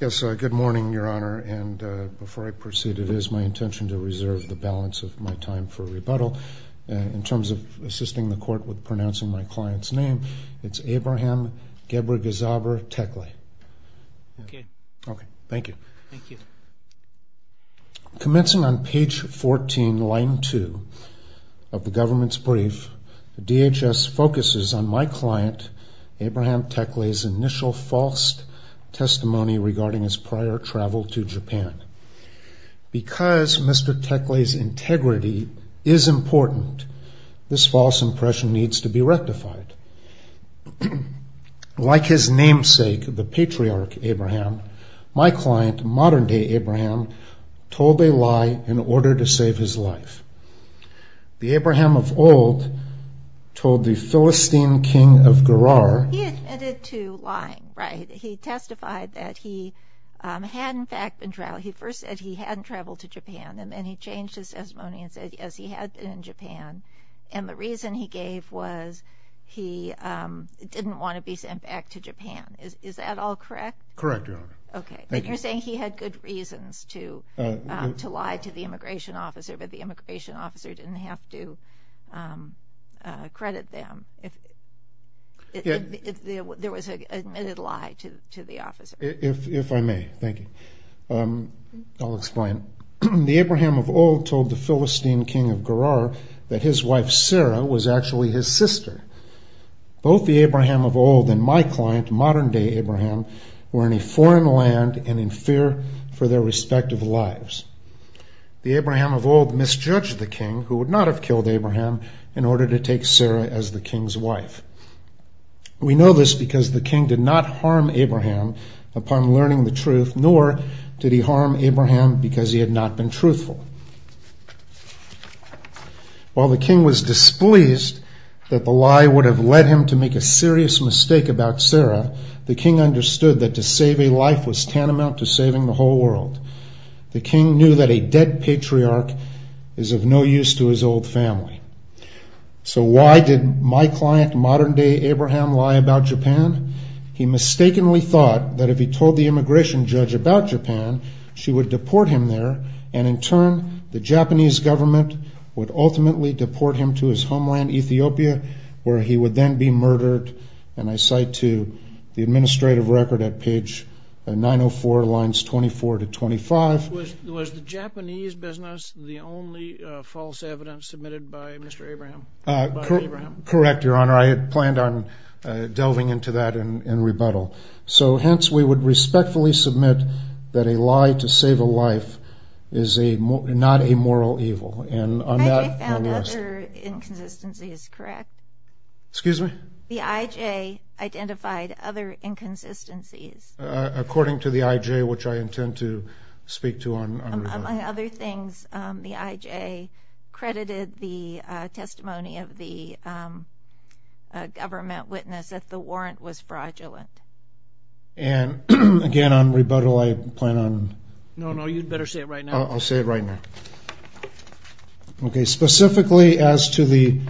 Yes, good morning Your Honor and before I proceed it is my intention to reserve the balance of my time for rebuttal in terms of assisting the court with pronouncing my client's name. It's Abraham Gebregziabher-Tekle. Okay. Okay. Thank you. Thank you. Commencing on page 14, line 2 of the government's brief, DHS focuses on my client Abraham Tekle's initial false testimony regarding his prior travel to Japan. Because Mr. Tekle's integrity is important, this false impression needs to be rectified. Like his namesake, the patriarch Abraham, my client, modern-day Abraham, told a lie in order to save his life. The Abraham of Philistine King of Gerar. He admitted to lying, right? He testified that he had in fact been traveling. He first said he hadn't traveled to Japan and then he changed his testimony and said yes he had been in Japan and the reason he gave was he didn't want to be sent back to Japan. Is that all correct? Correct, Your Honor. Okay. You're saying he had good reasons to lie to the immigration officer but the there was a lie to the officer. If I may, thank you. I'll explain. The Abraham of old told the Philistine King of Gerar that his wife Sarah was actually his sister. Both the Abraham of old and my client, modern-day Abraham, were in a foreign land and in fear for their respective lives. The Abraham of old misjudged the king who would not have killed Abraham in order to take Sarah as the king's wife. We know this because the king did not harm Abraham upon learning the truth nor did he harm Abraham because he had not been truthful. While the king was displeased that the lie would have led him to make a serious mistake about Sarah, the king understood that to save a life was tantamount to saving the whole world. The king knew that a dead patriarch is of no use to his old family. So why did my client, modern-day Abraham, lie about Japan? He mistakenly thought that if he told the immigration judge about Japan she would deport him there and in turn the Japanese government would ultimately deport him to his homeland Ethiopia where he would then be murdered and I cite to the administrative record at page 904 lines 24 to 25. Was the Japanese business the only false evidence submitted by Mr. Abraham? Correct your honor I had planned on delving into that in rebuttal so hence we would respectfully submit that a lie to save a life is a not a moral evil and on that I found other inconsistencies correct. Excuse me? The IJ identified other inconsistencies. According to the IJ which I intend to speak to on other things the IJ credited the testimony of the government witness that the warrant was fraudulent. And again on rebuttal I plan on. No no you'd better say it right now. I'll say it right now. Okay specifically as to the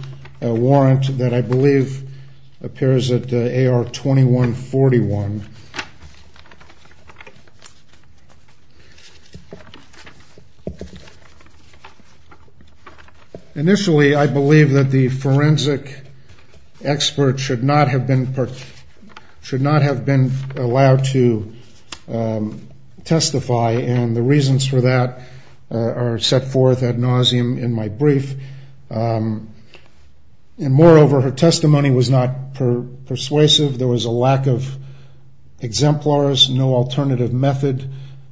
warrant that I believe appears at AR 2141 initially I believe that the forensic expert should not have been allowed to testify and the reasons for that are set forth ad nauseum in my exemplars no alternative method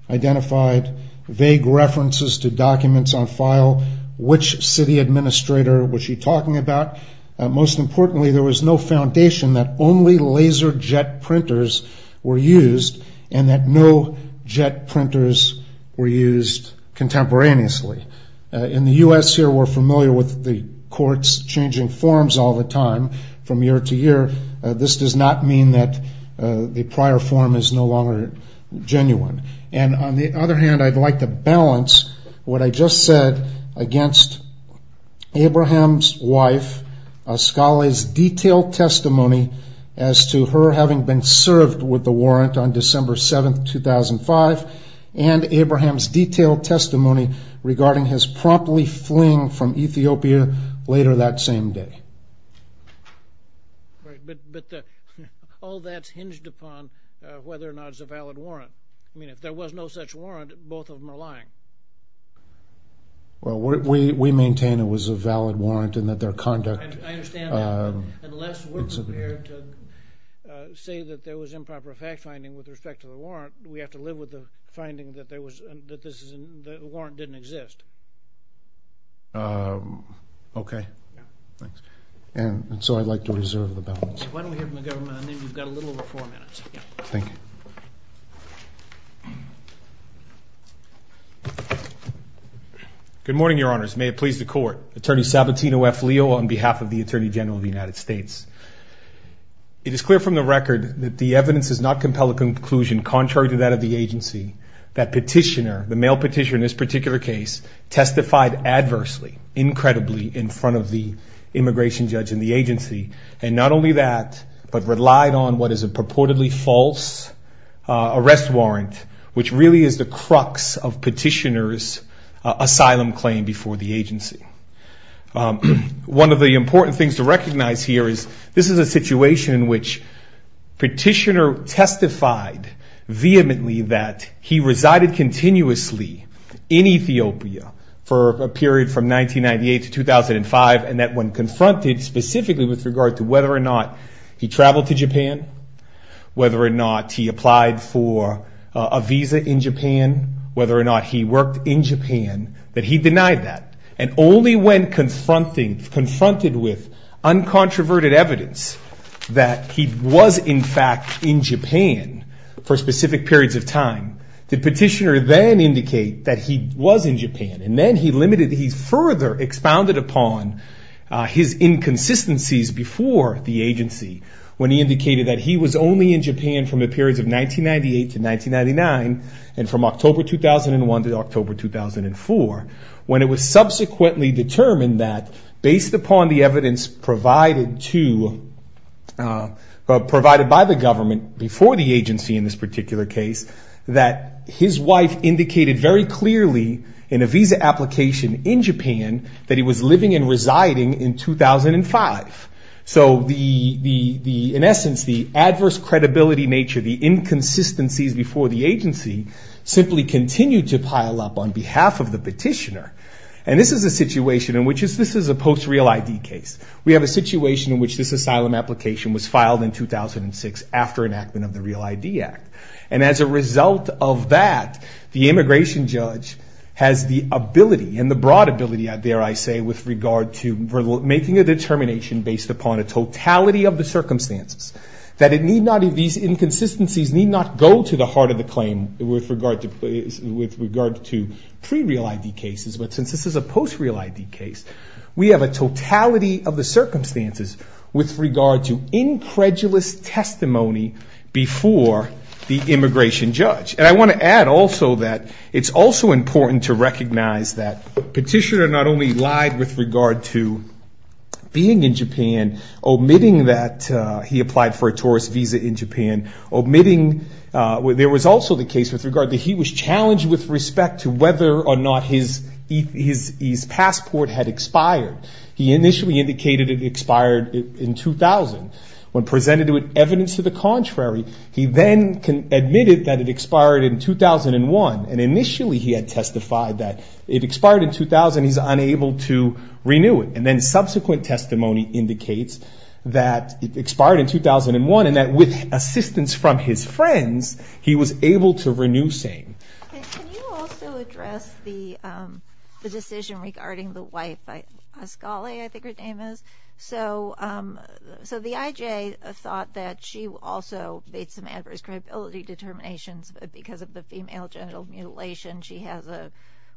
identified vague references to documents on file which city administrator was she talking about most importantly there was no foundation that only laser jet printers were used and that no jet printers were used contemporaneously. In the U.S. here we're familiar with the courts changing forms all the time from year to year this does not mean that the prior form is no longer genuine and on the other hand I'd like to balance what I just said against Abraham's wife a scholar's detailed testimony as to her having been served with the warrant on December 7th 2005 and Abraham's detailed testimony regarding his promptly fleeing from Ethiopia later that same day. But all that's hinged upon whether or not it's a valid warrant I mean if there was no such warrant both of them are lying. Well we maintain it was a valid warrant and that their conduct. I understand that but unless we're prepared to say that there was improper fact-finding with respect to the warrant we have to live with the warrant didn't exist. Okay thanks and so I'd like to reserve the balance. Why don't we hear from the government, I know you've got a little over four minutes. Good morning your honors may it please the court attorney Sabatino F Leo on behalf of the Attorney General of the United States. It is clear from the record that the evidence does not compel a conclusion contrary to that of the agency that petitioner the male petitioner in this particular case testified adversely incredibly in front of the immigration judge in the agency and not only that but relied on what is a purportedly false arrest warrant which really is the crux of petitioners asylum claim before the agency. One of the important things to recognize here is this is a situation in petitioner testified vehemently that he resided continuously in Ethiopia for a period from 1998 to 2005 and that when confronted specifically with regard to whether or not he traveled to Japan whether or not he applied for a visa in Japan whether or not he worked in Japan that he denied that and only when confronted with uncontroverted evidence that he was in fact in Japan for specific periods of time the petitioner then indicate that he was in Japan and then he further expounded upon his inconsistencies before the agency when he indicated that he was only in Japan from the period of 1998 to 1999 and from that based upon the evidence provided to provided by the government before the agency in this particular case that his wife indicated very clearly in a visa application in Japan that he was living and residing in 2005 so the the the in essence the adverse credibility nature the inconsistencies before the agency simply continue to pile up on behalf of the petitioner and this is a situation in which is this is a post real ID case we have a situation in which this asylum application was filed in 2006 after enactment of the Real ID Act and as a result of that the immigration judge has the ability and the broad ability I dare I say with regard to making a determination based upon a totality of the circumstances that it need not be these inconsistencies need not go to the heart of the claim with regard to with regard to pre real ID cases but since this is a post real ID case we have a totality of the circumstances with regard to incredulous testimony before the immigration judge and I want to add also that it's also important to recognize that petitioner not only lied with regard to being in Japan omitting that he applied for a tourist visa in Japan omitting where there was also the case with regard that he was challenged with respect to whether or not his passport had expired he initially indicated it expired in 2000 when presented with evidence to the contrary he then admitted that it expired in 2001 and initially he had testified that it expired in 2000 he's unable to renew it and then subsequent testimony indicates that it expired in 2001 and that with assistance from his friends he was able to renew same the decision regarding the wife by Scully I think her name is so so the IJ thought that she also made some adverse credibility determinations but because of the female genital mutilation she has a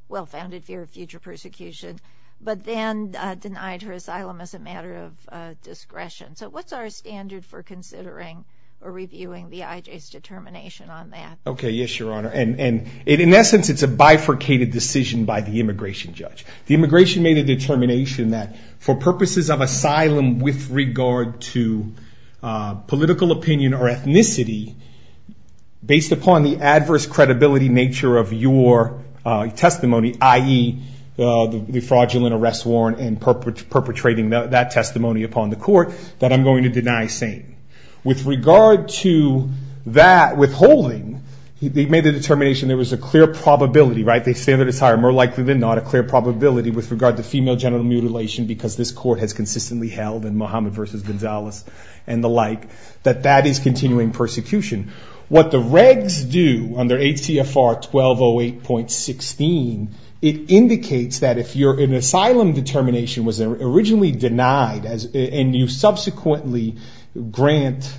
well-founded fear of future persecution but then denied her asylum as a matter of discretion so what's our standard for considering or reviewing the IJs determination on that okay yes your honor and and it in essence it's a bifurcated decision by the immigration judge the immigration made a determination that for purposes of asylum with regard to political opinion or ethnicity based upon the adverse credibility nature of your testimony ie the fraudulent arrest warrant and perpetrating that testimony upon the court that I'm going to deny saying with regard to that withholding he made the determination there was a clear probability right they say that it's higher more likely than not a clear probability with regard to female genital mutilation because this court has consistently held in Mohammed versus Gonzalez and the like that that is continuing persecution what the regs do under ACFR 1208.16 it indicates that if you're in asylum determination was originally denied as and you subsequently grant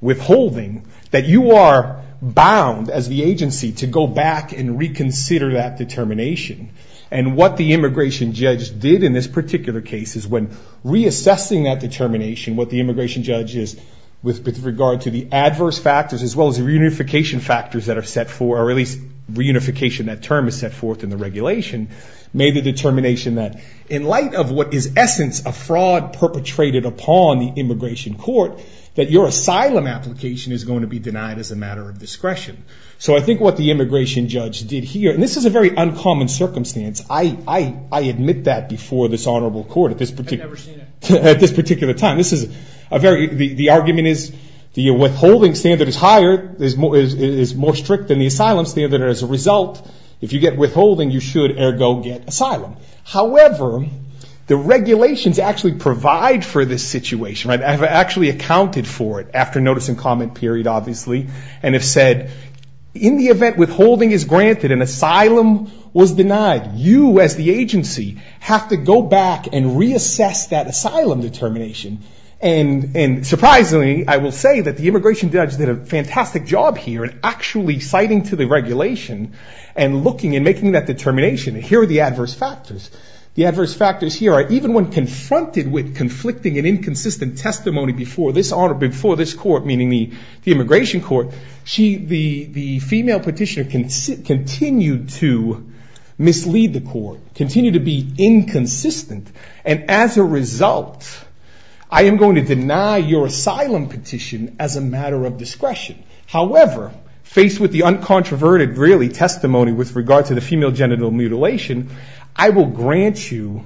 withholding that you are bound as the agency to go back and reconsider that determination and what the immigration judge did in this particular case is when reassessing that determination what the immigration judge is with regard to the adverse factors as well as reunification factors that are set for release reunification that term is set forth in the regulation made a essence of fraud perpetrated upon the immigration court that your asylum application is going to be denied as a matter of discretion so I think what the immigration judge did here and this is a very uncommon circumstance I admit that before this honorable court at this particular time this is a very the argument is the withholding standard is higher is more strict than the asylum standard as a result if you get withholding you should ergo get asylum however the regulations actually provide for this situation I have actually accounted for it after notice and comment period obviously and have said in the event withholding is granted and asylum was denied you as the agency have to go back and reassess that asylum determination and and surprisingly I will say that the immigration judge did a fantastic job here and actually citing to the regulation and looking and making that determination here the adverse factors the adverse factors here are even when confronted with conflicting and inconsistent testimony before this honor before this court meaning me the immigration court she the the female petitioner can sit continue to mislead the court continue to be inconsistent and as a result I am going to deny your asylum petition as a matter of discretion however faced with the uncontroverted really testimony with regard to the female genital mutilation I will grant you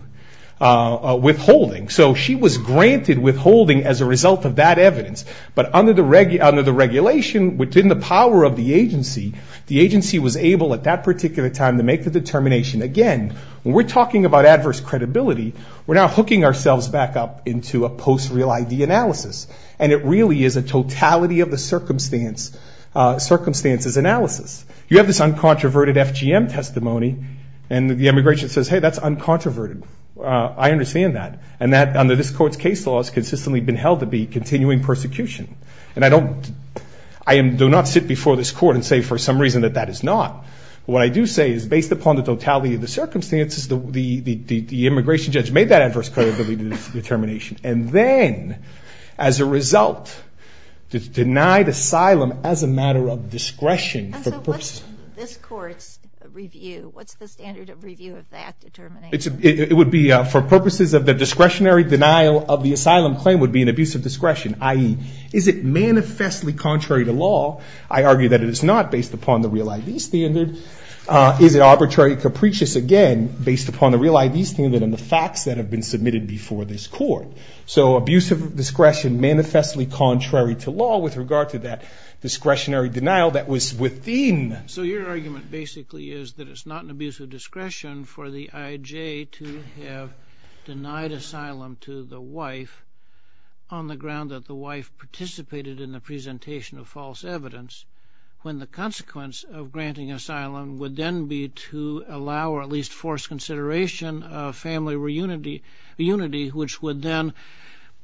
withholding so she was granted withholding as a result of that evidence but under the regular under the regulation within the power of the agency the agency was able at that particular time to make the determination again we're talking about adverse credibility we're not hooking ourselves back up into a post real ID analysis and it really is a totality of the circumstance circumstances analysis you have this uncontroverted FGM testimony and the immigration says hey that's uncontroverted I understand that and that under this court's case law has consistently been held to be continuing persecution and I don't I am do not sit before this court and say for some reason that that is not what I do say is based upon the totality of the circumstances the immigration judge made that adverse credibility determination and then as a result denied asylum as a matter of discretion it would be for purposes of the discretionary denial of the asylum claim would be an abuse of discretion ie is it manifestly contrary to law I argue that it is not based upon the real ID standard is it arbitrary capricious again based upon the real ID standard and the facts that have been submitted before this court so abuse of discretion manifestly contrary to law with regard to that discretionary denial that was within so your argument basically is that it's not an abuse of discretion for the IJ to have denied asylum to the wife on the ground that the wife participated in the presentation of false evidence when the consequence of granting asylum would then be to allow or at least force consideration of family reunity unity which would then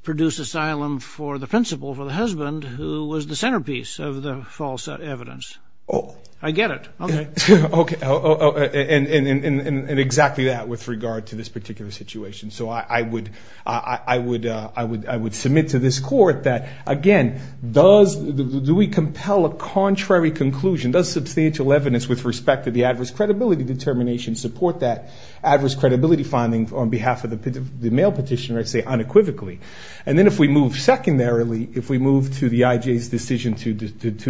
produce asylum for the principal for the husband who was the centerpiece of the false evidence oh I get it okay okay and exactly that with regard to this particular situation so I would I would I would I would submit to this court that again does do we compel a contrary conclusion does substantial evidence with respect to the adverse credibility determination support that adverse credibility finding on behalf of the male petitioner I say unequivocally and then if we move secondarily if we move to the IJ's decision to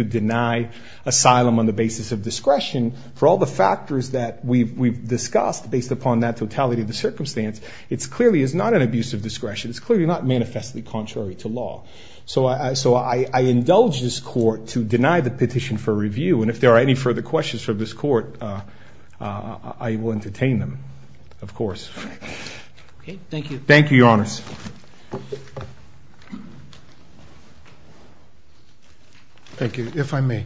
deny asylum on the basis of discretion for all the factors that we've discussed based upon that totality of the circumstance it's clearly is not an abuse of discretion it's clearly not manifestly contrary to law so I so I indulge this court to deny the petition for review and if there are any further questions for this court I will entertain them of course thank you thank you your honor's thank you if I may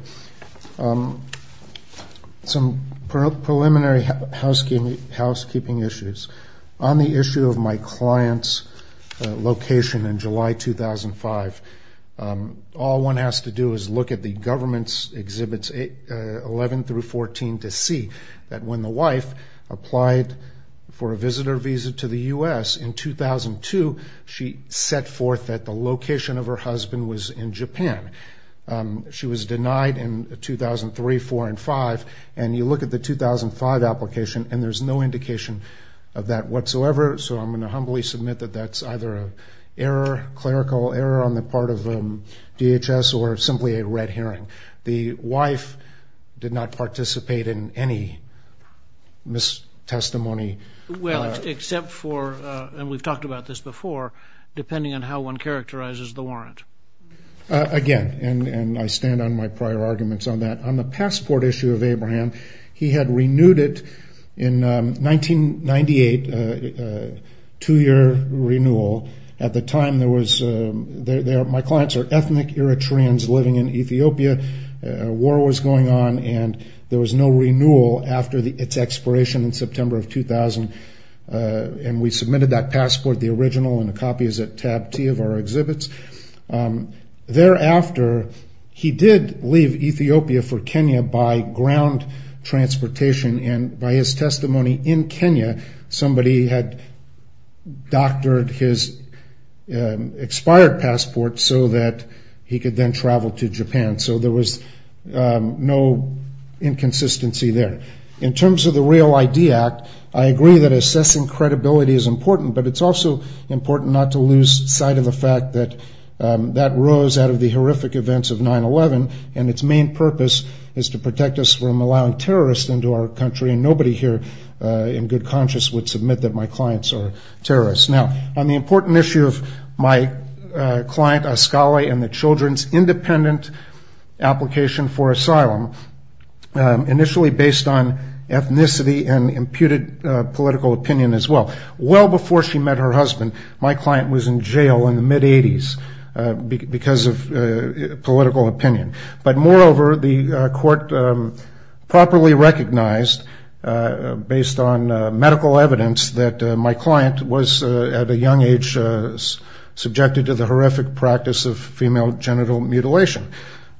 some preliminary housekeeping housekeeping issues on the issue of my clients location in July 2005 all one has to do is look at the government's exhibits 811 through 14 to see that when the wife applied for a visitor visa to the US in 2002 she set forth at the location of her husband was in Japan she was denied in 2003 four and five and you look at the 2005 application and there's no indication of that whatsoever so I'm humbly submit that that's either error clerical error on the part of them DHS or simply a red herring the wife did not participate in any miss testimony well except for and we've talked about this before depending on how one characterizes the warrant again and and I stand on my prior arguments on that on renewed it in 1998 two-year renewal at the time there was a war was going on and there was no renewal after the expiration in September 2000 and we submitted that passport the original copies of our exhibits thereafter he did Ethiopia for Kenya by ground transportation and by his testimony in Kenya somebody had doctored his expired passport so that he could then travel to Japan so there was no inconsistency there in terms of the real idea I agree that assessing credibility is important but it's also important not to lose sight of the fact that that rose out of the horrific events of 9-11 and its main purpose is to protect us from allowing terrorists into our country and nobody here in good conscience would submit that my clients are terrorists now on the important issue of my client a scholar and the children's independent application for asylum initially based on ethnicity and imputed political opinion as well well before she met her husband my client was in jail in the mid-eighties because of political opinion but moreover the court properly recognized based on medical evidence that my client was at a young age subjected to the horrific practice of female genital mutilation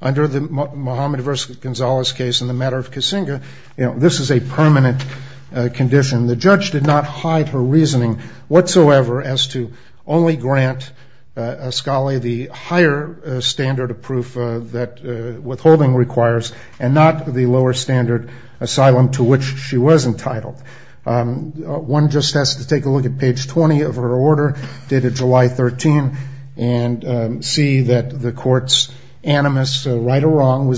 under the Mohammed versus Gonzalez case in the matter of Kissinger you know this is a condition the judge did not hide her reasoning whatsoever as to only grant a scholar the higher standard of proof that withholding requires and not the lower standard asylum to which she was entitled one just has to take a look at page 20 of her order dated July 13 and see that the court's animus right or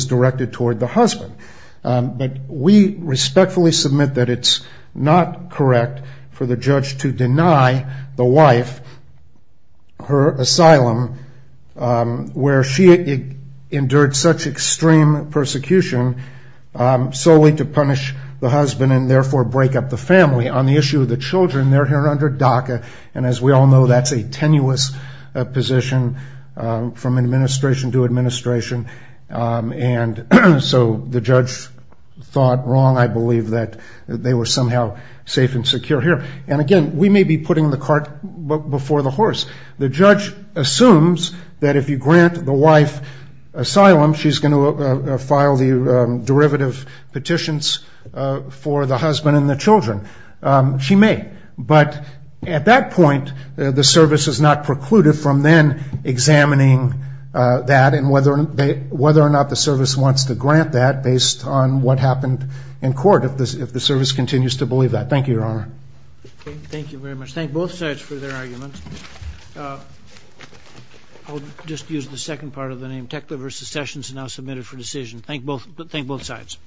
husband but we respectfully submit that it's not correct for the judge to deny the wife her asylum where she endured such extreme persecution solely to punish the husband and therefore break up the family on the issue of the children they're here under DACA and as we all know that's a tenuous position from administration to administration and so the judge thought wrong I believe that they were somehow safe and secure here and again we may be putting the cart before the horse the judge assumes that if you grant the wife asylum she's going to file the derivative petitions for the husband and the children she may but at that point the service is not precluded from then examining that and whether they whether or not the service wants to grant that based on what happened in court of this if the service continues to believe that thank you your honor thank you very much thank both sides for their arguments just use the second part of the name tech liver secessions now submitted for decision thank both think both sides